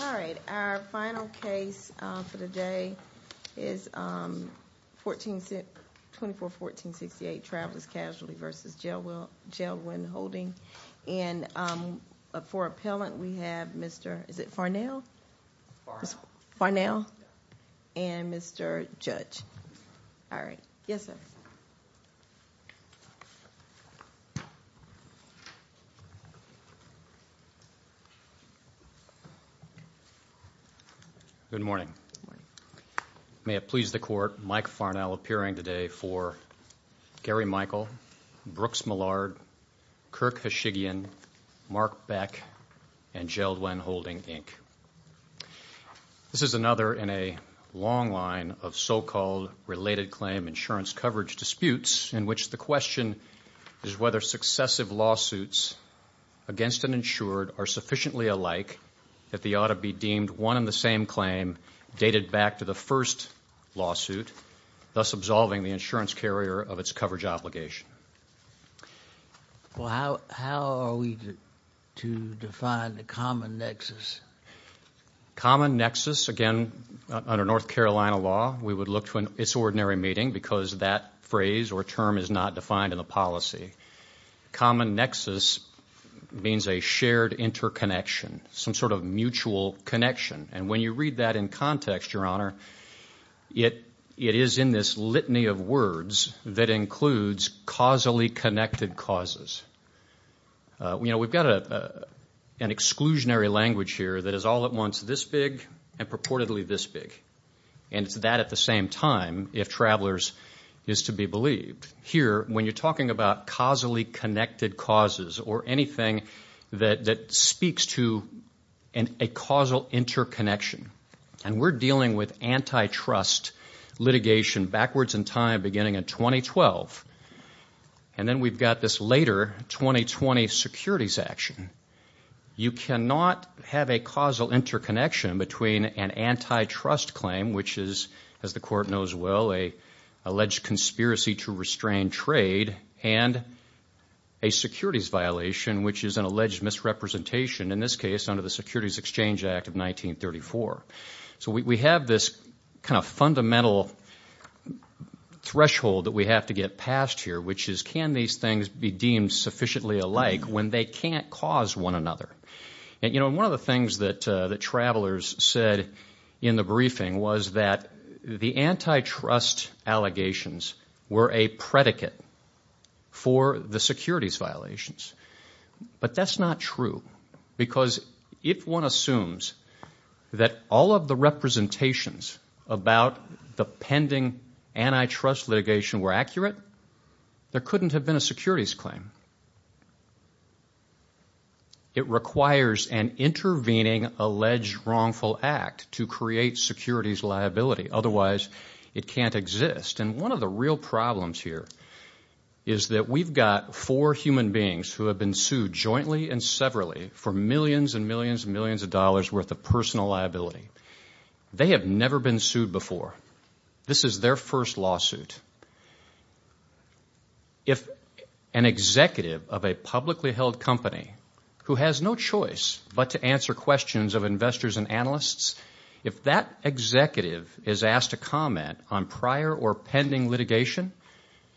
All right, our final case for the day is 24-1468 Travelers Casualty v. Jeld-Wen Holding. And for appellant, we have Mr. Farnell and Mr. Judge. All right, yes sir. Good morning. May it please the Court, Mike Farnell appearing today for Gary Michael, Brooks Millard, Kirk Heshigian, Mark Beck, and Jeld-Wen Holding, Inc. This is another in a long line of so-called related claim insurance coverage disputes in which the question is whether successive lawsuits against an insured are sufficiently alike that they ought to be deemed one and the same claim dated back to the first lawsuit, thus absolving the insurance carrier of its coverage obligation. Well, how are we to define the common nexus? Common nexus, again, under North Carolina law, we would look to an ordinary meeting because that phrase or term is not defined in the policy. Common nexus means a shared interconnection, some sort of mutual connection. And when you read that in context, Your Honor, it is in this litany of words that includes causally connected causes. You know, we've got an exclusionary language here that is all at once this big and purportedly this big, and it's that at the same time if travelers is to be believed. Here, when you're talking about causally connected causes or anything that speaks to a causal interconnection, and we're dealing with antitrust litigation backwards in time beginning in 2012, and then we've got this later 2020 securities action, you cannot have a causal interconnection between an antitrust claim, which is, as the Court knows well, an alleged conspiracy to restrain trade, and a securities violation, which is an alleged misrepresentation, in this case under the Securities Exchange Act of 1934. So we have this kind of fundamental threshold that we have to get past here, which is can these things be deemed sufficiently alike when they can't cause one another? And, you know, one of the things that travelers said in the briefing was that the antitrust allegations were a predicate for the securities violations. But that's not true because if one assumes that all of the representations about the pending antitrust litigation were accurate, there couldn't have been a securities claim. It requires an intervening alleged wrongful act to create securities liability. Otherwise, it can't exist. And one of the real problems here is that we've got four human beings who have been sued jointly and severally for millions and millions and millions of dollars worth of personal liability. They have never been sued before. This is their first lawsuit. If an executive of a publicly held company who has no choice but to answer questions of investors and analysts, if that executive is asked to comment on prior or pending litigation,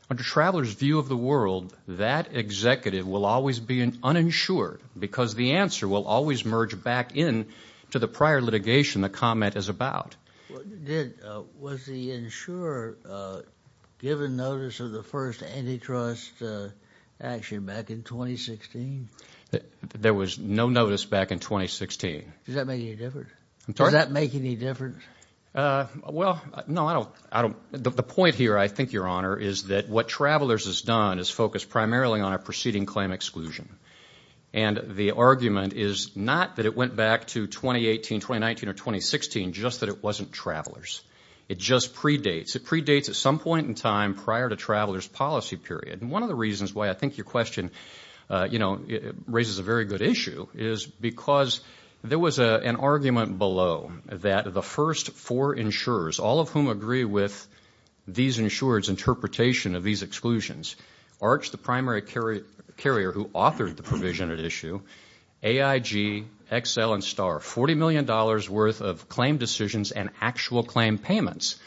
under travelers' view of the world, that executive will always be uninsured because the answer will always merge back in to the prior litigation the comment is about. Was the insurer given notice of the first antitrust action back in 2016? There was no notice back in 2016. Does that make any difference? I'm sorry? Does that make any difference? Well, no, I don't. The point here, I think, Your Honor, is that what Travelers has done is focus primarily on a preceding claim exclusion. And the argument is not that it went back to 2018, 2019, or 2016, just that it wasn't Travelers. It just predates. It predates at some point in time prior to Travelers' policy period. And one of the reasons why I think your question, you know, raises a very good issue is because there was an argument below that the first four insurers, all of whom agree with these insurers' interpretation of these exclusions, Arch, the primary carrier who authored the provision at issue, AIG, Excel, and STAR, $40 million worth of claim decisions and actual claim payments.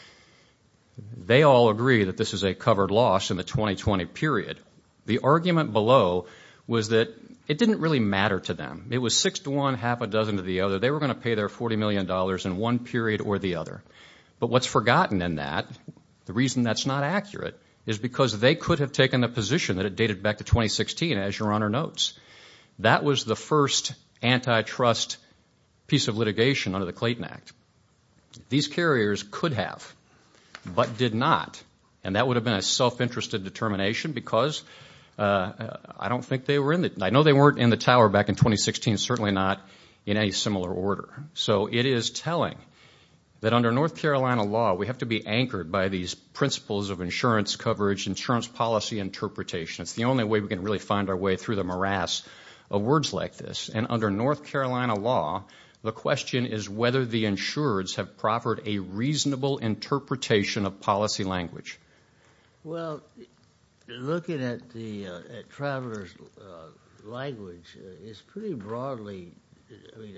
They all agree that this is a covered loss in the 2020 period. The argument below was that it didn't really matter to them. It was six to one, half a dozen to the other. They were going to pay their $40 million in one period or the other. But what's forgotten in that, the reason that's not accurate, is because they could have taken the position that it dated back to 2016, as your Honor notes. That was the first antitrust piece of litigation under the Clayton Act. These carriers could have but did not, and that would have been a self-interested determination because I don't think they were in the, I know they weren't in the tower back in 2016, certainly not in any similar order. So it is telling that under North Carolina law, we have to be anchored by these principles of insurance coverage, insurance policy interpretation. It's the only way we can really find our way through the morass of words like this. And under North Carolina law, the question is whether the insurers have proffered a reasonable interpretation of policy language. Well, looking at the traveler's language, it's pretty broadly, I mean,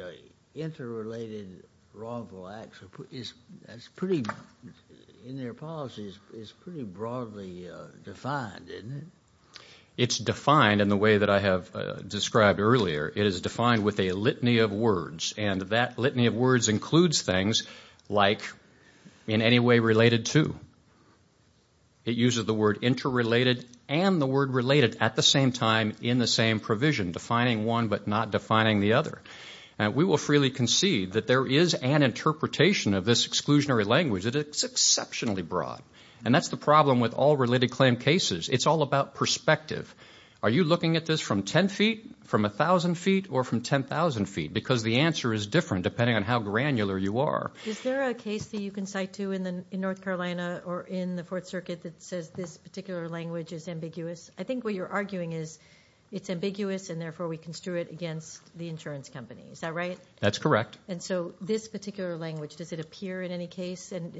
interrelated wrongful acts is pretty, in their policies, is pretty broadly defined, isn't it? It's defined in the way that I have described earlier. It is defined with a litany of words, and that litany of words includes things like in any way related to. It uses the word interrelated and the word related at the same time in the same provision, defining one but not defining the other. We will freely concede that there is an interpretation of this exclusionary language. It is exceptionally broad, and that's the problem with all related claim cases. It's all about perspective. Are you looking at this from 10 feet, from 1,000 feet, or from 10,000 feet? Because the answer is different depending on how granular you are. Is there a case that you can cite to in North Carolina or in the Fourth Circuit that says this particular language is ambiguous? I think what you're arguing is it's ambiguous, and therefore we construe it against the insurance company. Is that right? That's correct. And so this particular language, does it appear in any case, and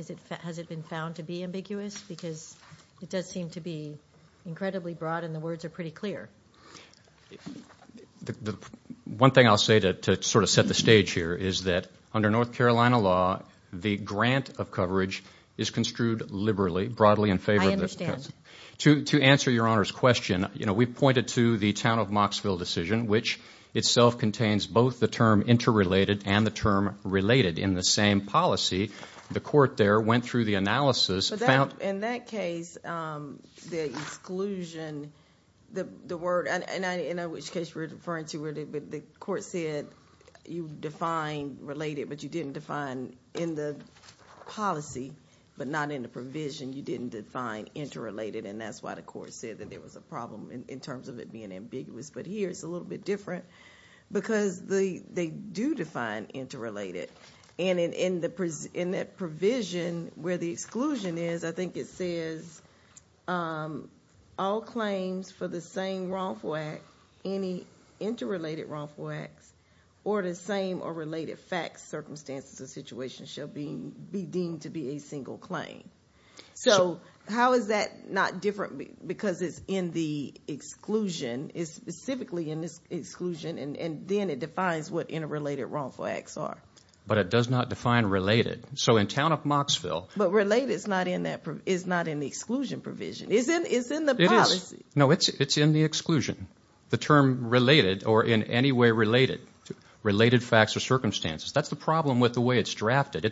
has it been found to be ambiguous? Because it does seem to be incredibly broad, and the words are pretty clear. One thing I'll say to sort of set the stage here is that under North Carolina law, the grant of coverage is construed liberally, broadly in favor of this. To answer Your Honor's question, you know, we pointed to the town of Mocksville decision, which itself contains both the term interrelated and the term related. In the same policy, the court there went through the analysis. In that case, the exclusion, the word, in which case we're referring to where the court said you define related, but you didn't define in the policy, but not in the provision, you didn't define interrelated, and that's why the court said that there was a problem in terms of it being ambiguous. But here it's a little bit different because they do define interrelated. And in that provision where the exclusion is, I think it says all claims for the same wrongful act, any interrelated wrongful acts, or the same or related facts, circumstances, or situations shall be deemed to be a single claim. So how is that not different because it's in the exclusion, it's specifically in this exclusion, and then it defines what interrelated wrongful acts are. But it does not define related. So in town of Mocksville. But related is not in the exclusion provision. It's in the policy. No, it's in the exclusion. The term related or in any way related, related facts or circumstances, that's the problem with the way it's drafted.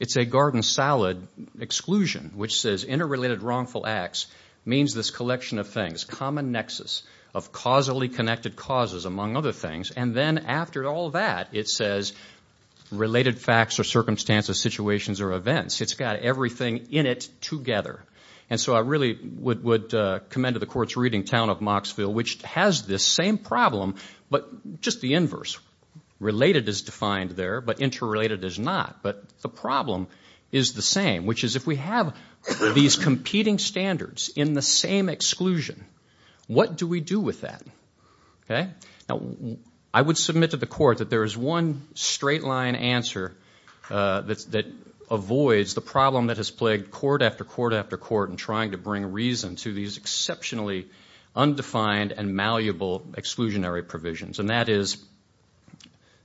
It's a garden salad exclusion, which says interrelated wrongful acts means this collection of things, this common nexus of causally connected causes, among other things. And then after all that, it says related facts or circumstances, situations or events. It's got everything in it together. And so I really would commend to the court's reading town of Mocksville, which has this same problem, but just the inverse. Related is defined there, but interrelated is not. But the problem is the same, which is if we have these competing standards in the same exclusion, what do we do with that? Okay? Now, I would submit to the court that there is one straight line answer that avoids the problem that has plagued court after court after court in trying to bring reason to these exceptionally undefined and malleable exclusionary provisions. And that is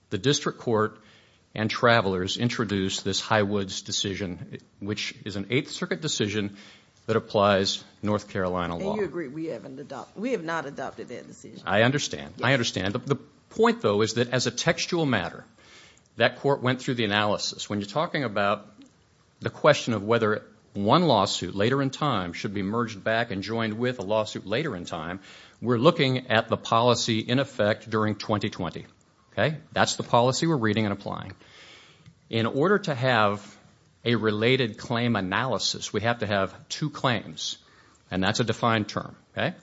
the district court and travelers introduced this Highwoods decision, which is an Eighth Circuit decision that applies North Carolina law. And you agree we have not adopted that decision? I understand. I understand. The point, though, is that as a textual matter, that court went through the analysis. When you're talking about the question of whether one lawsuit later in time should be merged back and joined with a lawsuit later in time, we're looking at the policy in effect during 2020. Okay? That's the policy we're reading and applying. In order to have a related claim analysis, we have to have two claims, and that's a defined term. Okay?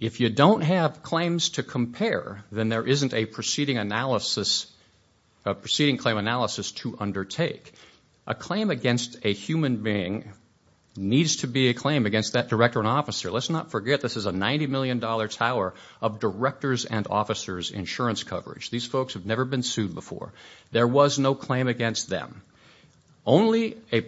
If you don't have claims to compare, then there isn't a proceeding claim analysis to undertake. A claim against a human being needs to be a claim against that director and officer. Let's not forget this is a $90 million tower of directors and officers' insurance coverage. These folks have never been sued before. There was no claim against them. Only a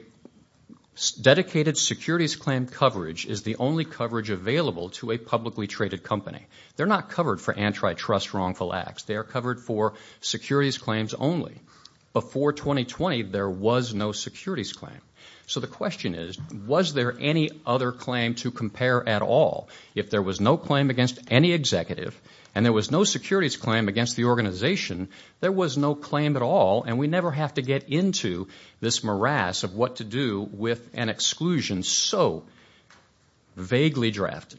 dedicated securities claim coverage is the only coverage available to a publicly traded company. They're not covered for antitrust wrongful acts. They are covered for securities claims only. Before 2020, there was no securities claim. So the question is, was there any other claim to compare at all? If there was no claim against any executive and there was no securities claim against the organization, there was no claim at all, and we never have to get into this morass of what to do with an exclusion so vaguely drafted.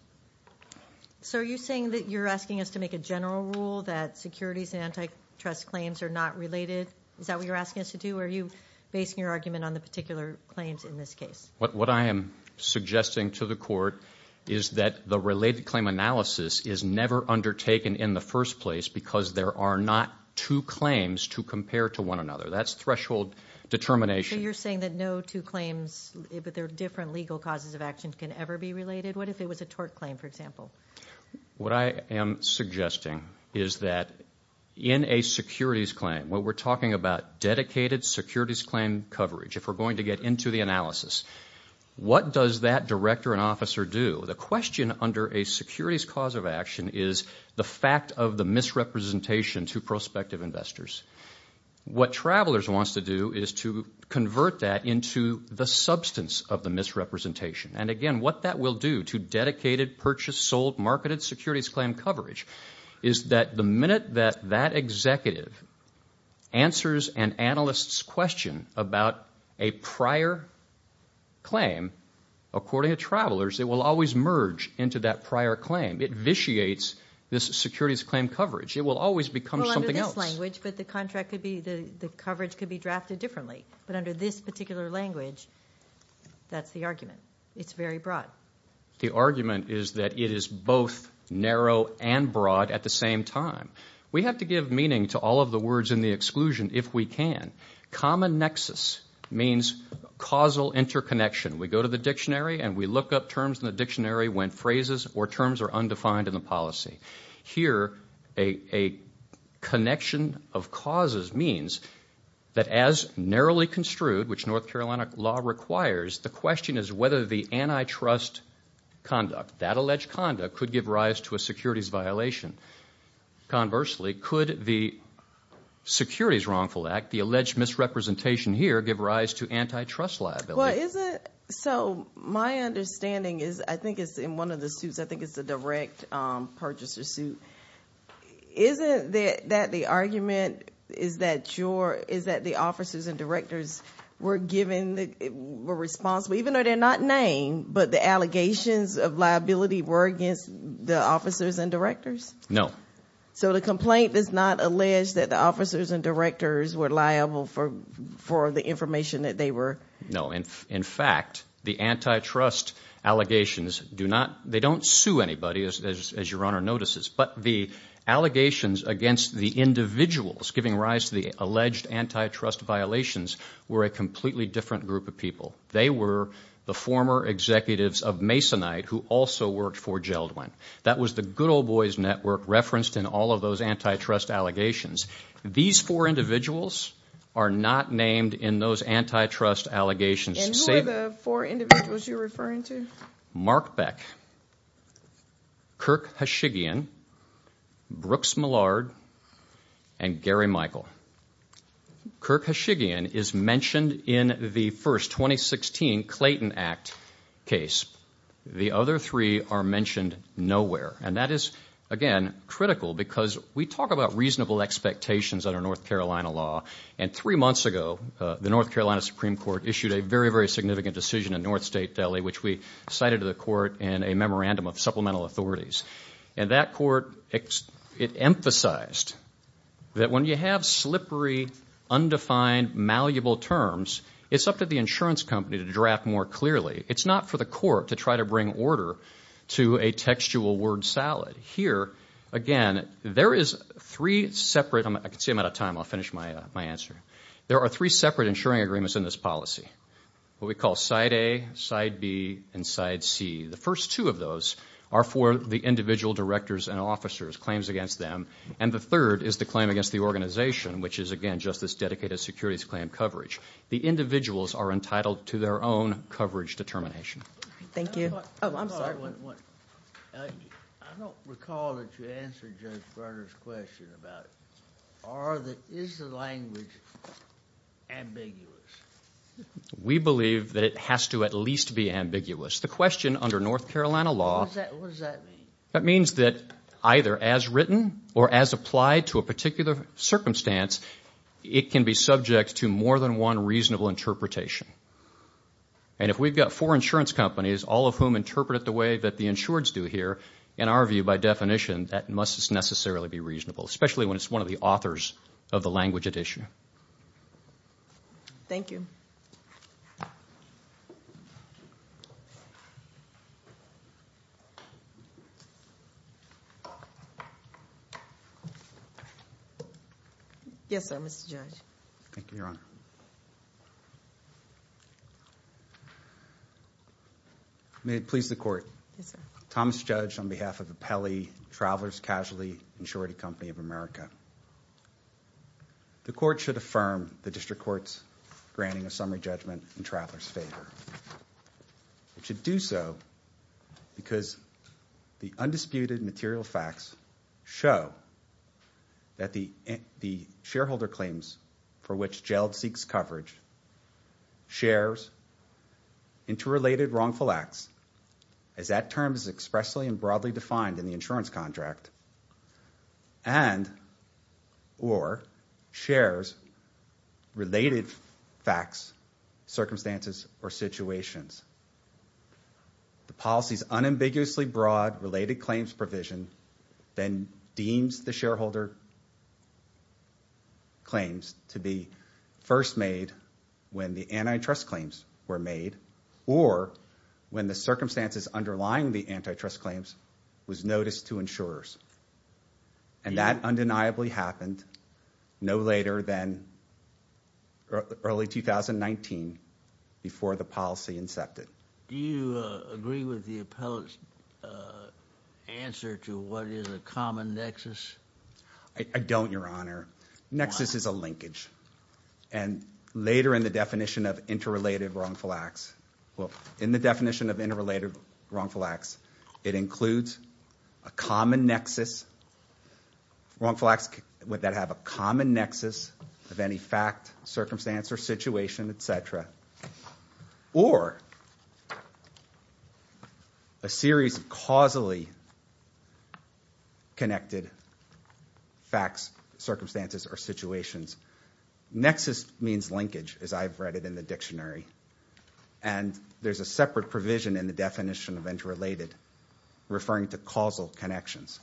So are you saying that you're asking us to make a general rule that securities and antitrust claims are not related? Is that what you're asking us to do, or are you basing your argument on the particular claims in this case? What I am suggesting to the court is that the related claim analysis is never undertaken in the first place because there are not two claims to compare to one another. That's threshold determination. So you're saying that no two claims, but there are different legal causes of action can ever be related? What if it was a tort claim, for example? What I am suggesting is that in a securities claim, when we're talking about dedicated securities claim coverage, if we're going to get into the analysis, what does that director and officer do? The question under a securities cause of action is the fact of the misrepresentation to prospective investors. What Travelers wants to do is to convert that into the substance of the misrepresentation, and, again, what that will do to dedicated, purchased, sold, marketed securities claim coverage is that the minute that that executive answers an analyst's question about a prior claim, according to Travelers, it will always merge into that prior claim. It vitiates this securities claim coverage. It will always become something else. Well, under this language, but the coverage could be drafted differently. But under this particular language, that's the argument. It's very broad. The argument is that it is both narrow and broad at the same time. We have to give meaning to all of the words in the exclusion if we can. Common nexus means causal interconnection. We go to the dictionary, and we look up terms in the dictionary when phrases or terms are undefined in the policy. Here, a connection of causes means that as narrowly construed, which North Carolina law requires, the question is whether the antitrust conduct, that alleged conduct, could give rise to a securities violation. Conversely, could the Securities Wrongful Act, the alleged misrepresentation here, give rise to antitrust liability? My understanding is, I think it's in one of the suits. I think it's the direct purchaser suit. Isn't that the argument is that the officers and directors were responsible, even though they're not named, but the allegations of liability were against the officers and directors? No. So the complaint does not allege that the officers and directors were liable for the information that they were? No. In fact, the antitrust allegations do not sue anybody, as your Honor notices, but the allegations against the individuals giving rise to the alleged antitrust violations were a completely different group of people. They were the former executives of Masonite who also worked for Jeldwin. That was the good old boys network referenced in all of those antitrust allegations. These four individuals are not named in those antitrust allegations. And who are the four individuals you're referring to? Mark Beck, Kirk Hashigian, Brooks Millard, and Gary Michael. Kirk Hashigian is mentioned in the first 2016 Clayton Act case. The other three are mentioned nowhere. And that is, again, critical because we talk about reasonable expectations under North Carolina law, and three months ago the North Carolina Supreme Court issued a very, very significant decision in North State Delhi, which we cited to the court in a memorandum of supplemental authorities. And that court emphasized that when you have slippery, undefined, malleable terms, it's up to the insurance company to draft more clearly. It's not for the court to try to bring order to a textual word salad. Here, again, there is three separate – I can see I'm out of time. I'll finish my answer. There are three separate insuring agreements in this policy, what we call side A, side B, and side C. The first two of those are for the individual directors and officers, claims against them. And the third is the claim against the organization, which is, again, just this dedicated securities claim coverage. The individuals are entitled to their own coverage determination. Thank you. Oh, I'm sorry. I don't recall that you answered Judge Brunner's question about is the language ambiguous? We believe that it has to at least be ambiguous. The question under North Carolina law – What does that mean? That means that either as written or as applied to a particular circumstance, it can be subject to more than one reasonable interpretation. And if we've got four insurance companies, all of whom interpret it the way that the insureds do here, in our view, by definition, that must necessarily be reasonable, especially when it's one of the authors of the language at issue. Thank you. Yes, sir, Mr. Judge. Thank you, Your Honor. May it please the Court. Yes, sir. Thomas Judge on behalf of Apelli Travelers Casualty Insurance Company of America. The Court should affirm the District Court's granting a summary judgment in Travelers' favor. It should do so because the undisputed material facts show that the shareholder claims for which jail seeks coverage shares interrelated wrongful acts, as that term is expressly and broadly defined in the insurance contract, and or shares related facts, circumstances, or situations. The policy's unambiguously broad related claims provision then deems the shareholder claims to be first made when the antitrust claims were made or when the circumstances underlying the antitrust claims was noticed to insurers. And that undeniably happened no later than early 2019 before the policy incepted. Do you agree with the appellate's answer to what is a common nexus? I don't, Your Honor. Nexus is a linkage. And later in the definition of interrelated wrongful acts, well, in the definition of interrelated wrongful acts, it includes a common nexus, wrongful acts that have a common nexus of any fact, circumstance, or situation, et cetera, or a series of causally connected facts, circumstances, or situations. Nexus means linkage, as I've read it in the dictionary. And there's a separate provision in the definition of interrelated referring to causal connections,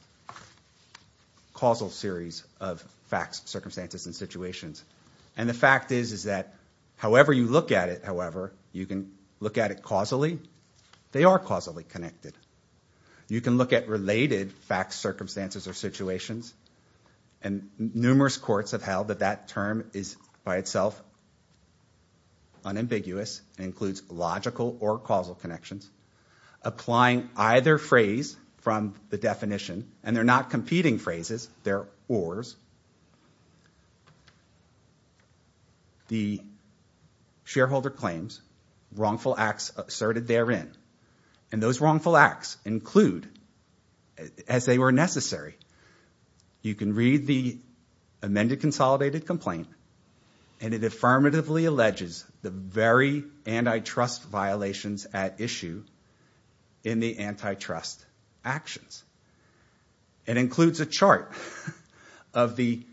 causal series of facts, circumstances, and situations. And the fact is that however you look at it, however, you can look at it causally, they are causally connected. You can look at related facts, circumstances, or situations. And numerous courts have held that that term is by itself unambiguous and includes logical or causal connections. Applying either phrase from the definition, and they're not competing phrases, they're ors, the shareholder claims wrongful acts asserted therein. And those wrongful acts include, as they were necessary, you can read the amended consolidated complaint, and it affirmatively alleges the very antitrust violations at issue in the antitrust actions. It includes a chart of the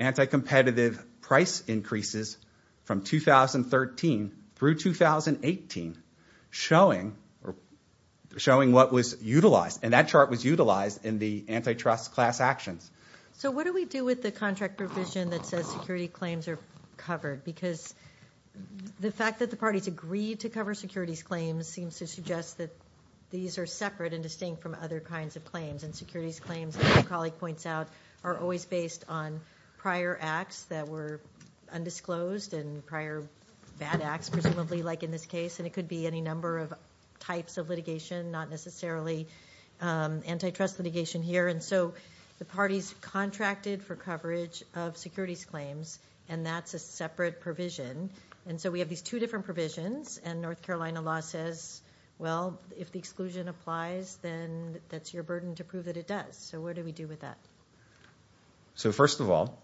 anti-competitive price increases from 2013 through 2018 showing what was utilized. And that chart was utilized in the antitrust class actions. So what do we do with the contract provision that says security claims are covered? Because the fact that the parties agreed to cover securities claims seems to suggest that these are separate and distinct from other kinds of claims. And securities claims, as my colleague points out, are always based on prior acts that were undisclosed and prior bad acts, presumably like in this case. And it could be any number of types of litigation, not necessarily antitrust litigation here. And so the parties contracted for coverage of securities claims, and that's a separate provision. And so we have these two different provisions, and North Carolina law says, well, if the exclusion applies, then that's your burden to prove that it does. So what do we do with that? So first of all,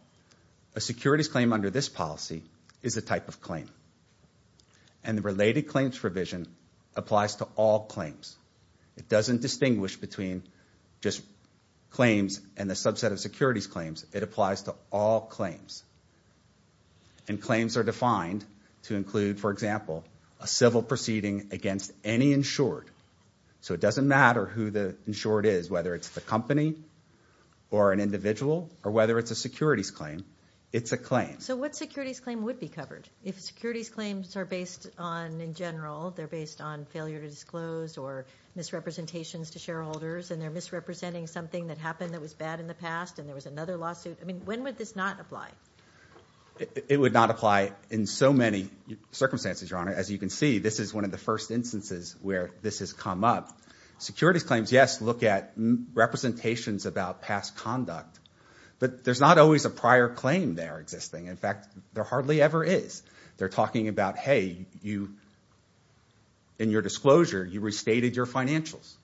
a securities claim under this policy is a type of claim. And the related claims provision applies to all claims. It doesn't distinguish between just claims and a subset of securities claims. It applies to all claims. And claims are defined to include, for example, a civil proceeding against any insured. So it doesn't matter who the insured is, whether it's the company or an individual, or whether it's a securities claim, it's a claim. So what securities claim would be covered? If securities claims are based on, in general, they're based on failure to disclose or misrepresentations to shareholders, and they're misrepresenting something that happened that was bad in the past, and there was another lawsuit, I mean, when would this not apply? It would not apply in so many circumstances, Your Honor. As you can see, this is one of the first instances where this has come up. Securities claims, yes, look at representations about past conduct, but there's not always a prior claim there existing. In fact, there hardly ever is. They're talking about, hey, you, in your disclosure, you restated your financials.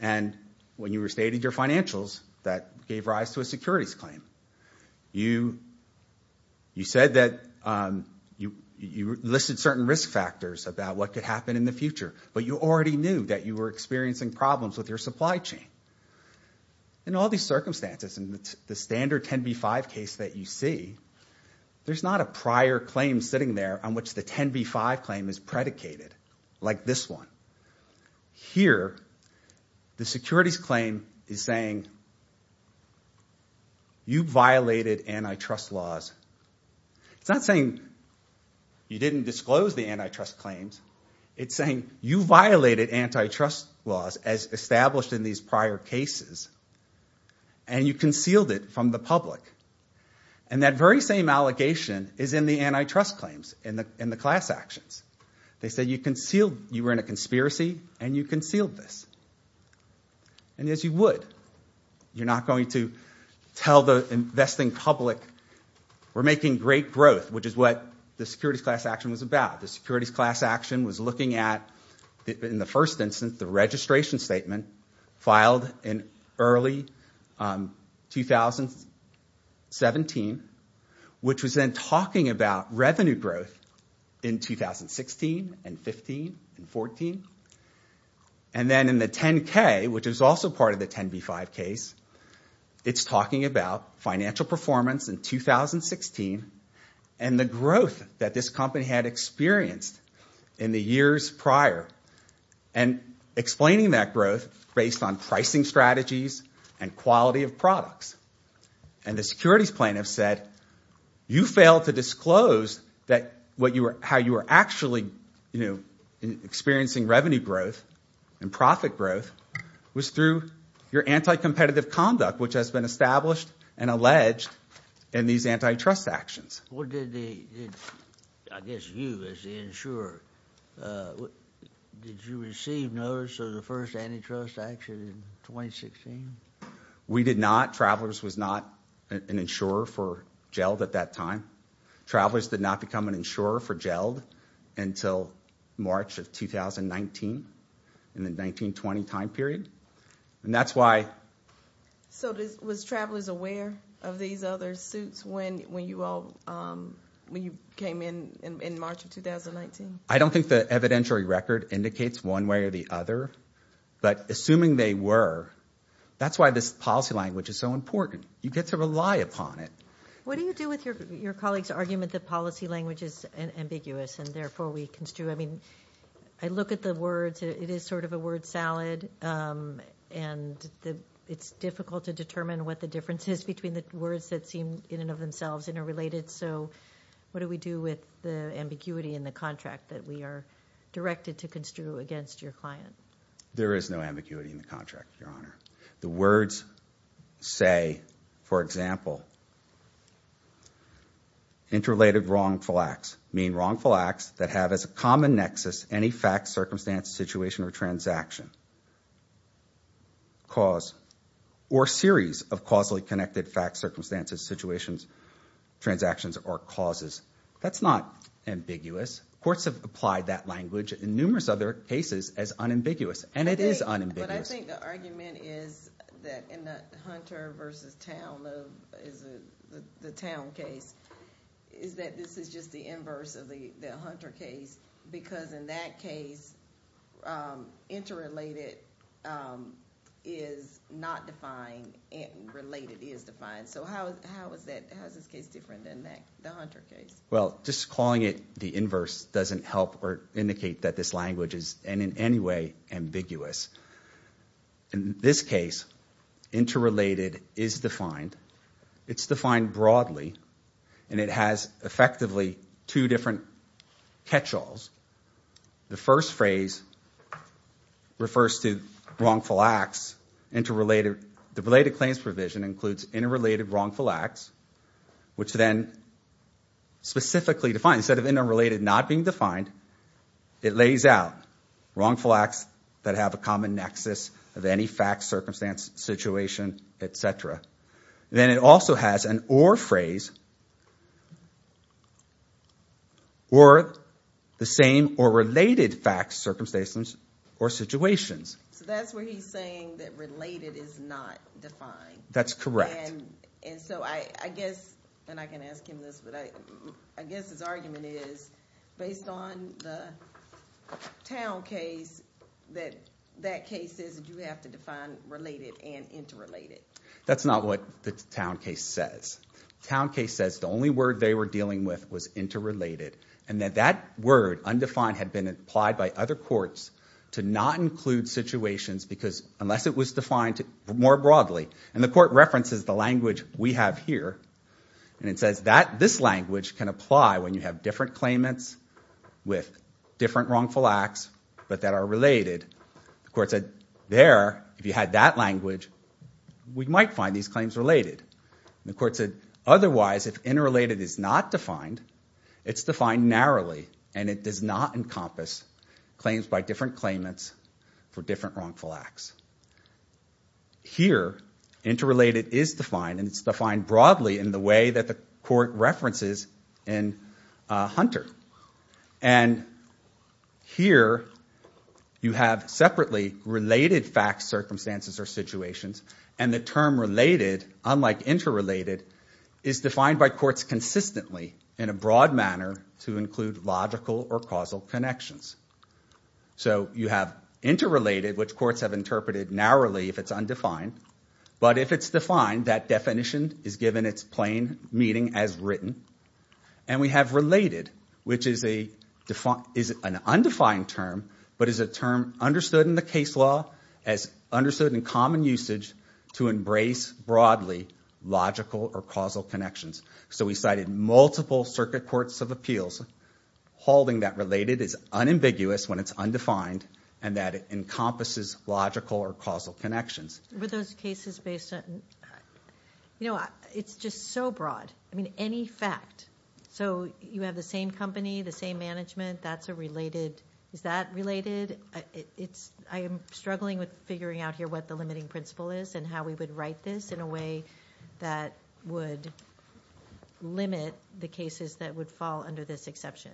And when you restated your financials, that gave rise to a securities claim. You said that you listed certain risk factors about what could happen in the future, but you already knew that you were experiencing problems with your supply chain. In all these circumstances, in the standard 10b-5 case that you see, there's not a prior claim sitting there on which the 10b-5 claim is predicated, like this one. Here, the securities claim is saying, you violated antitrust laws. It's not saying you didn't disclose the antitrust claims. It's saying you violated antitrust laws as established in these prior cases, and you concealed it from the public. And that very same allegation is in the antitrust claims, in the class actions. They said you concealed, you were in a conspiracy, and you concealed this. And yes, you would. You're not going to tell the investing public, we're making great growth, which is what the securities class action was about. The securities class action was looking at, in the first instance, the registration statement filed in early 2017, which was then talking about revenue growth in 2016 and 15 and 14. And then in the 10k, which is also part of the 10b-5 case, it's talking about financial performance in 2016, and the growth that this company had experienced in the years prior, and explaining that growth based on pricing strategies and quality of products. And the securities plaintiff said, you failed to disclose how you were actually experiencing revenue growth and profit growth was through your anti-competitive conduct, which has been established and alleged in these antitrust actions. I guess you, as the insurer, did you receive notice of the first antitrust action in 2016? We did not. Travelers was not an insurer for GELD at that time. Travelers did not become an insurer for GELD until March of 2019, in the 19-20 time period. And that's why... So was Travelers aware of these other suits when you came in in March of 2019? I don't think the evidentiary record indicates one way or the other, but assuming they were, that's why this policy language is so important. You get to rely upon it. What do you do with your colleague's argument that policy language is ambiguous and therefore we construe... I mean, I look at the words. It is sort of a word salad. And it's difficult to determine what the difference is between the words that seem in and of themselves interrelated. So what do we do with the ambiguity in the contract that we are directed to construe against your client? There is no ambiguity in the contract, Your Honor. The words say, for example, interrelated wrongful acts, mean wrongful acts that have as a common nexus any fact, circumstance, situation, or transaction, cause, or series of causally connected facts, circumstances, situations, transactions, or causes. That's not ambiguous. Courts have applied that language in numerous other cases as unambiguous. And it is unambiguous. But I think the argument is that in the Hunter v. Town, the Town case, is that this is just the inverse of the Hunter case because in that case, interrelated is not defined and related is defined. So how is this case different than the Hunter case? Well, just calling it the inverse doesn't help or indicate that this language is in any way ambiguous. In this case, interrelated is defined. It's defined broadly and it has effectively two different catch-alls. The first phrase refers to wrongful acts. The related claims provision includes interrelated wrongful acts, which then, specifically defined, instead of interrelated not being defined, it lays out wrongful acts that have a common nexus of any fact, circumstance, situation, etc. Then it also has an or phrase or the same or related facts, circumstances, or situations. So that's where he's saying that related is not defined. That's correct. And so I guess, and I can ask him this, but I guess his argument is, based on the Towne case, that that case says that you have to define related and interrelated. That's not what the Towne case says. The Towne case says the only word they were dealing with was interrelated and that that word, undefined, had been applied by other courts to not include situations because unless it was defined more broadly, and the court references the language we have here, and it says this language can apply when you have different claimants with different wrongful acts, but that are related, the court said there, if you had that language, we might find these claims related. The court said otherwise, if interrelated is not defined, it's defined narrowly and it does not encompass claims by different claimants for different wrongful acts. Here, interrelated is defined and it's defined broadly in the way that the court references in Hunter. Here, you have separately related facts, circumstances, or situations, and the term related, unlike interrelated, is defined by courts consistently in a broad manner to include logical or causal connections. You have interrelated, which courts have interpreted narrowly if it's undefined, but if it's defined, that definition is given its plain meaning as written, and we have related, which is an undefined term, but is a term understood in the case law as understood in common usage to embrace broadly logical or causal connections. We cited multiple circuit courts of appeals holding that related is unambiguous when it's undefined and that it encompasses logical or causal connections. Were those cases based on... It's just so broad. I mean, any fact. So you have the same company, the same management, that's a related... Is that related? I am struggling with figuring out here what the limiting principle is and how we would write this in a way that would limit the cases that would fall under this exception.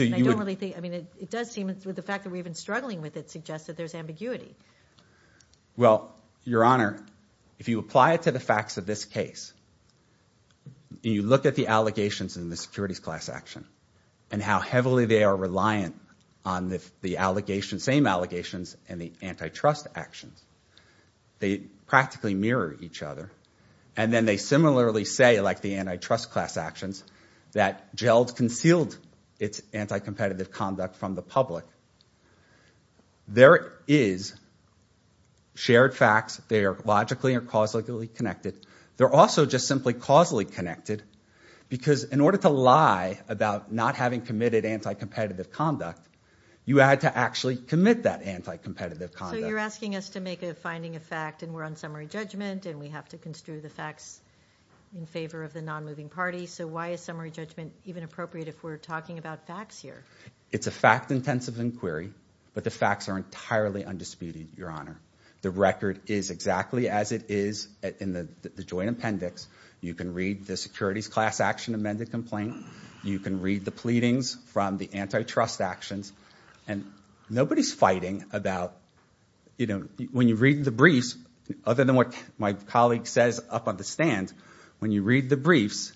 I don't really think... It does seem, with the fact that we've been struggling with it, suggests that there's ambiguity. Well, Your Honor, if you apply it to the facts of this case, and you look at the allegations in the securities class action and how heavily they are reliant on the same allegations and the antitrust actions, they practically mirror each other. And then they similarly say, like the antitrust class actions, that GELD concealed its anti-competitive conduct from the public. There is shared facts. They are logically or causally connected. They're also just simply causally connected because in order to lie about not having committed anti-competitive conduct, you had to actually commit that anti-competitive conduct. So you're asking us to make a finding of fact and we're on summary judgment and we have to construe the facts in favor of the non-moving party. So why is summary judgment even appropriate if we're talking about facts here? It's a fact-intensive inquiry, but the facts are entirely undisputed, Your Honor. You can read the joint appendix. You can read the securities class action amended complaint. You can read the pleadings from the antitrust actions. And nobody's fighting about, when you read the briefs, other than what my colleague says up on the stand, when you read the briefs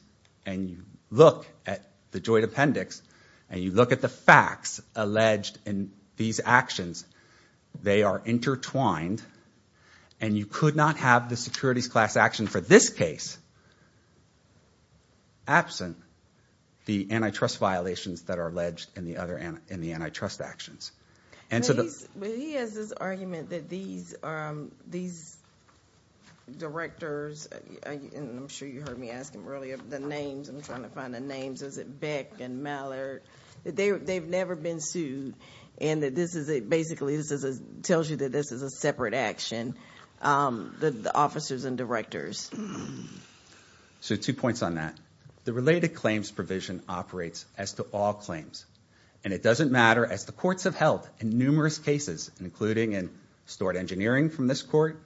and you look at the joint appendix and you look at the facts alleged in these actions, they are intertwined and you could not have for this case absent the antitrust violations that are alleged in the antitrust actions. He has this argument that these directors, and I'm sure you heard me ask him earlier, the names, I'm trying to find the names, is it Beck and Mallard, they've never been sued and basically this tells you that this is a separate action, the officers and directors. So two points on that. The related claims provision operates as to all claims and it doesn't matter as the courts have held in numerous cases, including in Stort Engineering from this court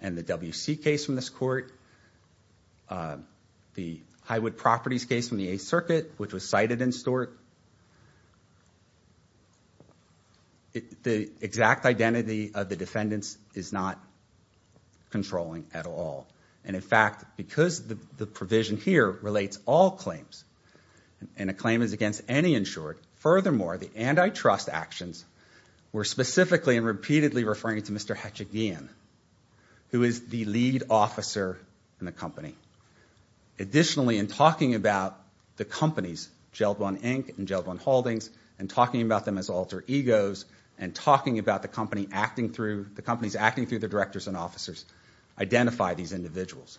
and the WC case from this court, the Highwood Properties case from the Eighth Circuit, which was cited in Stort. The exact identity of the defendants is not controlling at all and in fact, because the provision here relates all claims and a claim is against any insured, furthermore, the antitrust actions were specifically and repeatedly referring to Mr. Hetchikian who is the lead officer in the company. Additionally, in talking about the companies, Gellblom Inc. and Gellblom Holdings and talking about them as alter egos and talking about the company acting through the directors and officers identify these individuals.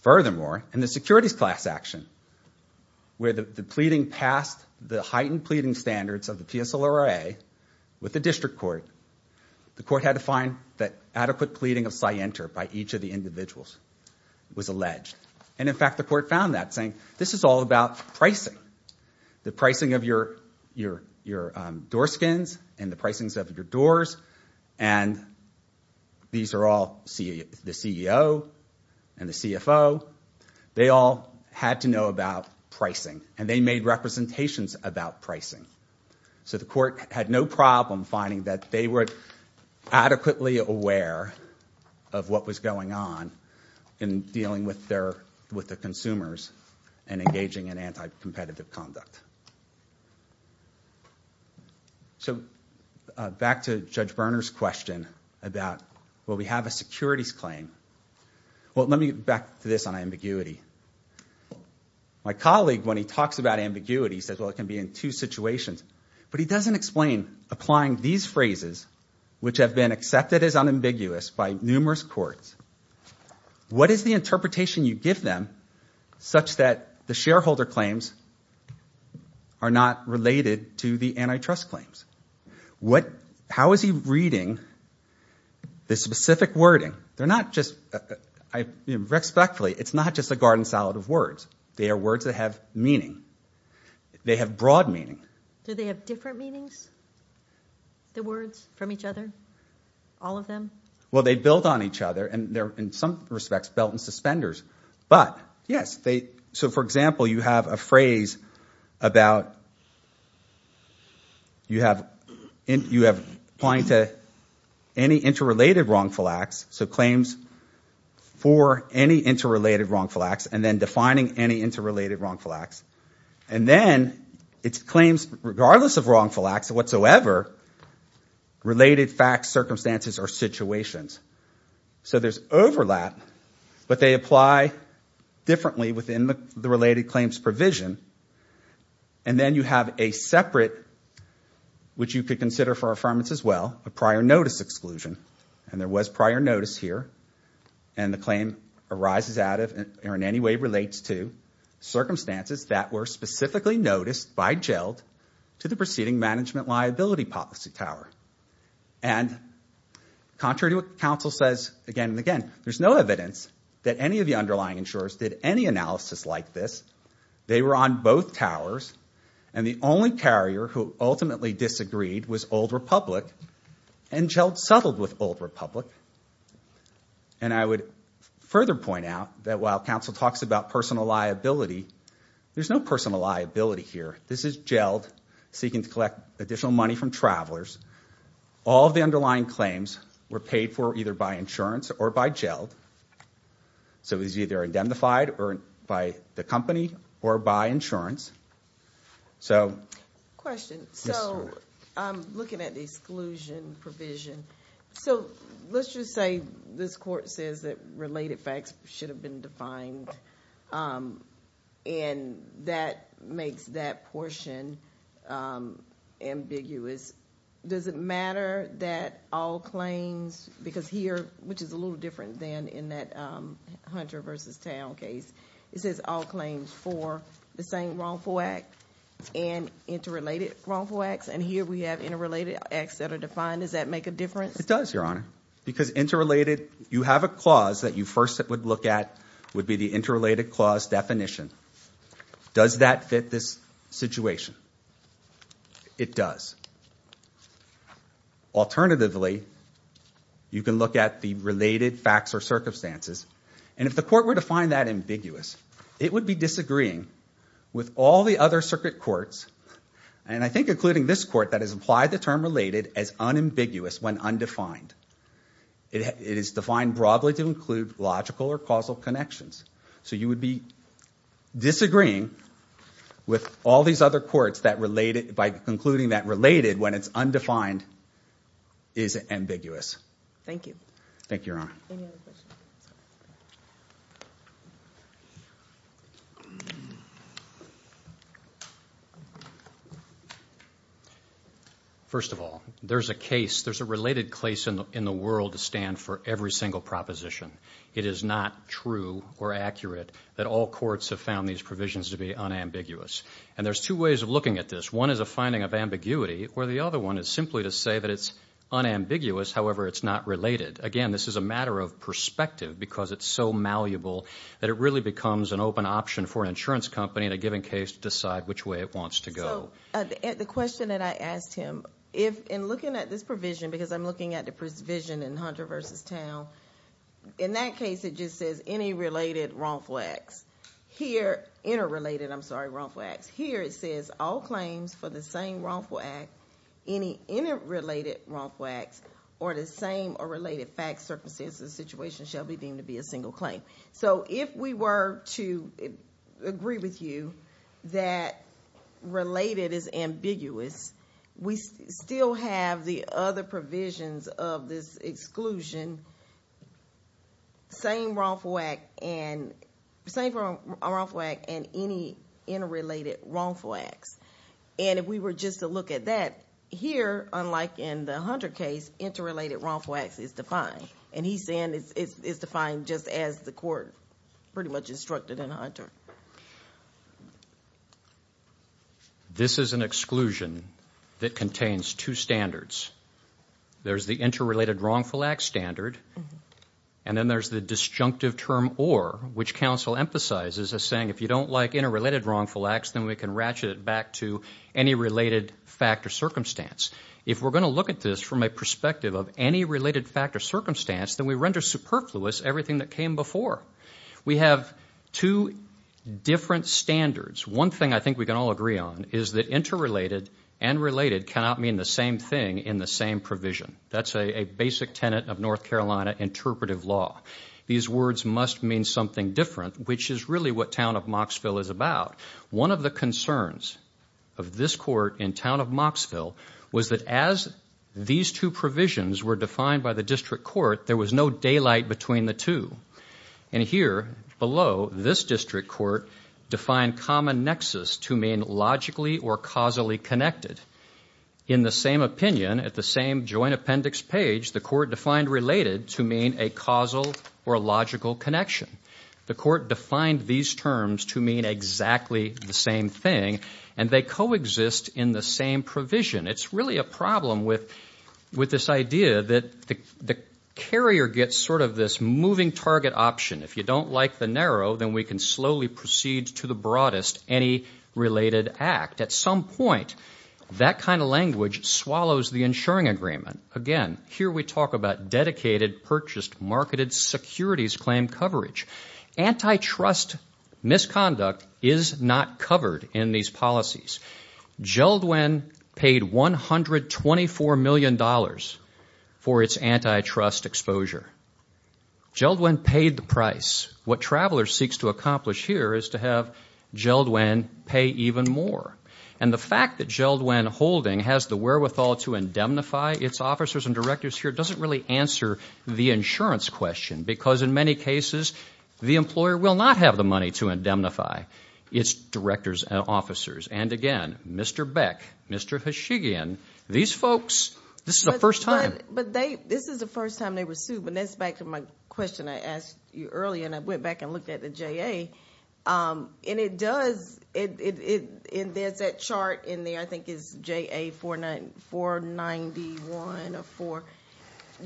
Furthermore, in the securities class action where the pleading passed the heightened pleading standards of the PSLRA with the district court, the court had to find that adequate pleading of scienter by each of the individuals was alleged and in fact, the court found that saying, this is all about pricing. The pricing of your door skins and the pricing of your doors and these are all the CEO and the CFO. They all had to know about pricing and they made representations about pricing. So, the court had no problem finding that they were adequately aware of what was going on in dealing with their with the consumers and engaging in anti-competitive conduct. So, back to Judge Berner's question about well, we have a securities claim. Well, let me get back to this on ambiguity. My colleague, when he talks about ambiguity, he says, well, it can be in two situations but he doesn't explain applying these phrases which have been accepted as unambiguous by numerous courts. What is the interpretation you give them such that the shareholder claims are not related to the antitrust claims? What, how is he reading the specific wording? They're not just, respectfully, it's not just a garden salad of words. They are words that have meaning. They have broad meaning. Do they have different meanings? The words from each other? All of them? Well, they build on each other and they're, in some respects, belt and suspenders. But, yes, they, so, for example, you have a phrase about you have, you have applying to any interrelated wrongful acts, so claims for any interrelated wrongful acts and then defining any interrelated wrongful acts. And then it's claims, regardless of wrongful acts whatsoever, related facts, or situations. So there's overlap but they apply differently within the related claims provision. And then you have a separate, which you could consider for affirmance as well, a prior notice exclusion. And there was prior notice here. And the claim arises out of or in any way relates to circumstances that were specifically noticed by jailed to the proceeding management liability policy tower. And, contrary to what counsel says again and again, there's no evidence that any of the underlying insurers did any analysis like this. They were on both towers and the only carrier who ultimately disagreed was Old Republic and jailed settled with Old Republic. And I would further point out that while counsel talks about personal liability, there's no personal liability here. This is jailed seeking to collect additional money from travelers. All of the underlying claims were paid for either by insurance or by jailed. So it was either indemnified or by the company or by insurance. So... Question. So, I'm looking at the exclusion provision. So, let's just say this court says that related facts should have been defined. And that makes that portion ambiguous. Does it matter that all claims because here, which is a little different than in that Hunter versus Town case, it says all claims for the same wrongful act and interrelated wrongful acts and here we have interrelated acts that are defined. Does that make a difference? It does, Your Honor. Because interrelated, you have a clause that you first would look at would be the interrelated clause definition. Does that fit this situation? It does. Alternatively, you can look at the related facts or circumstances and if the court were to find that ambiguous, it would be disagreeing with all the other circuit courts and I think including this court that has implied the term related as unambiguous when undefined. It is defined broadly to include logical or causal connections. So, you would be disagreeing with all these other courts that related by concluding that related when it's undefined is ambiguous. Thank you. Thank you, Your Honor. Thank you. First of all, there's a case, there's a related case in the world to stand for every single proposition. It is not true or accurate that all courts have found these provisions to be unambiguous and there's two ways of looking at this. One is a finding of ambiguity where the other one is simply to say that it's unambiguous, however, it's not related. Again, this is a matter of perspective because it's so malleable that it really becomes an open option for an insurance company in a given case to decide which way it wants to go. So, the question that I asked him, in looking at this provision because I'm looking at the provision in Hunter v. Town, in that case, it just says any related wrongful acts. Here, interrelated, I'm sorry, wrongful acts. Here, it says all claims for the same wrongful act, any interrelated wrongful acts, or the same or related facts, circumstances, shall be deemed to be a single claim. So, if we were to agree with you that related is ambiguous, we still have the other provisions of this exclusion, same wrongful act and any interrelated wrongful acts. And if we were just to look at that, here, unlike in the Hunter case, interrelated wrongful acts is defined. And he's saying it's defined just as the court pretty much instructed in Hunter. This is an exclusion that contains two standards. There's the interrelated wrongful act standard and then there's the disjunctive term or, which counsel emphasizes as saying, if you don't like interrelated wrongful acts, then we can ratchet it back to any related fact or circumstance. If we're going to look at this from a perspective of any related fact or circumstance, then we render superfluous everything that came before. We have two different standards. One thing I think we can all agree on is that interrelated and related cannot mean the same thing in the same provision. That's a basic tenet of North Carolina interpretive law. These words must mean something different, which is really what Town of Moxville is about. One of the concerns of this court in Town of Moxville was that as these two provisions were defined by the district court, there was no daylight between the two. And here, below, this district court defined common nexus to mean logically or causally connected. In the same opinion, at the same joint appendix page, the court defined related to mean a causal or logical connection. The court defined these terms to mean exactly the same thing, and they coexist in the same provision. It's really a problem with this idea that the carrier gets sort of this moving target option. If you don't like the narrow, then we can slowly proceed to the broadest any related act. At some point, that kind of language swallows the insuring agreement. Again, here we talk about dedicated, securities claim coverage. Antitrust misconduct is not covered in these policies. Jeldwen paid $124 million for its antitrust exposure. Jeldwen paid the What Traveler seeks to accomplish here is to have Jeldwen pay even more. And the fact that Jeldwen Holding has the wherewithal to indemnify its officers and directors here doesn't really answer the insurance question, because in many cases, the employer will not have the money to indemnify its directors and officers. And again, Mr. Beck, Mr. Hashigian, these folks, this is the first time. This is the first time they were sued, but that's back to my question I asked you earlier, and I went back and looked at the And there's that chart in there, which I think is J.A. 491 or 4,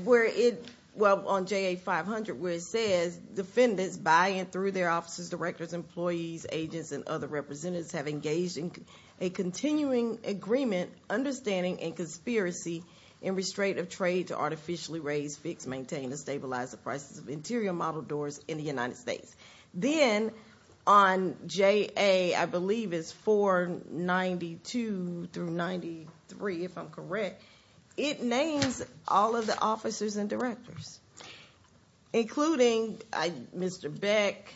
where it well, on J.A. 500, where it says defendants by and through their officers, employees, agents, and other representatives have engaged in a continuing agreement understanding and conspiracy in restraint of trade to artificially raise, fix, and stabilize the prices of interior model doors in the United States. Then, on J.A., I believe it's 492 through 93, if I'm correct, it names all of the officers and including Mr. Beck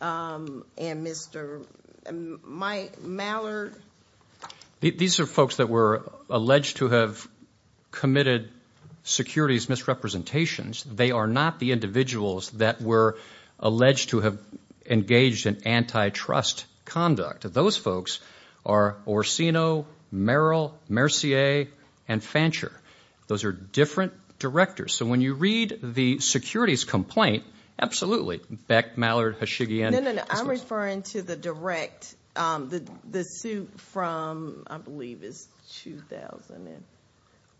and Mr. Mallard. These are folks that were alleged to have committed securities misrepresentations. They are not the individuals that were alleged to have engaged in antitrust conduct. Those folks are Orsino, Merrill, Mercier, and Fancher. Those are different directors. So when you read the securities complaint, absolutely, Beck, Mallard, Hashigian. I'm referring to the direct, the suit from, it's 2000.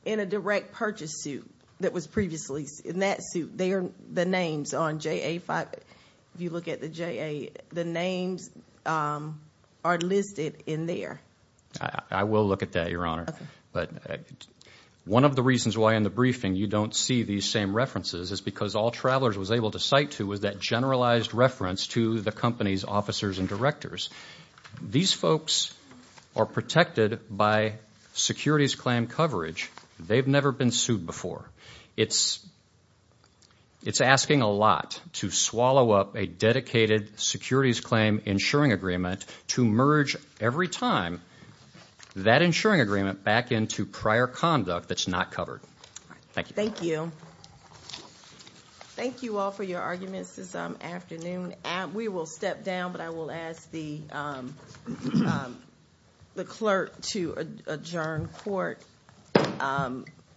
In a direct purchase suit that was previously, in that suit, the names on J.A. 5, if you look at the J.A., the names are listed in there. I will look at that, Your Honor. One of the reasons why in the briefing you don't see these same references is because all these officers, and directors, these folks are protected by securities claim coverage. They've never been sued before. It's asking a lot to swallow up a dedicated securities claim insuring agreement to merge every time that insuring agreement back into prior conduct that's not covered. Thank you. Thank you all for your time this We will step down, but I will ask the clerk to adjourn court.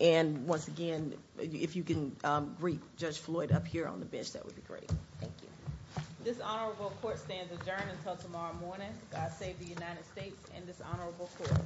And, once again, if you can greet Judge Floyd up here on the bench, that would be great. Thank you. This Honorable Court stands adjourned until tomorrow morning. God save the United States and this Honorable Court.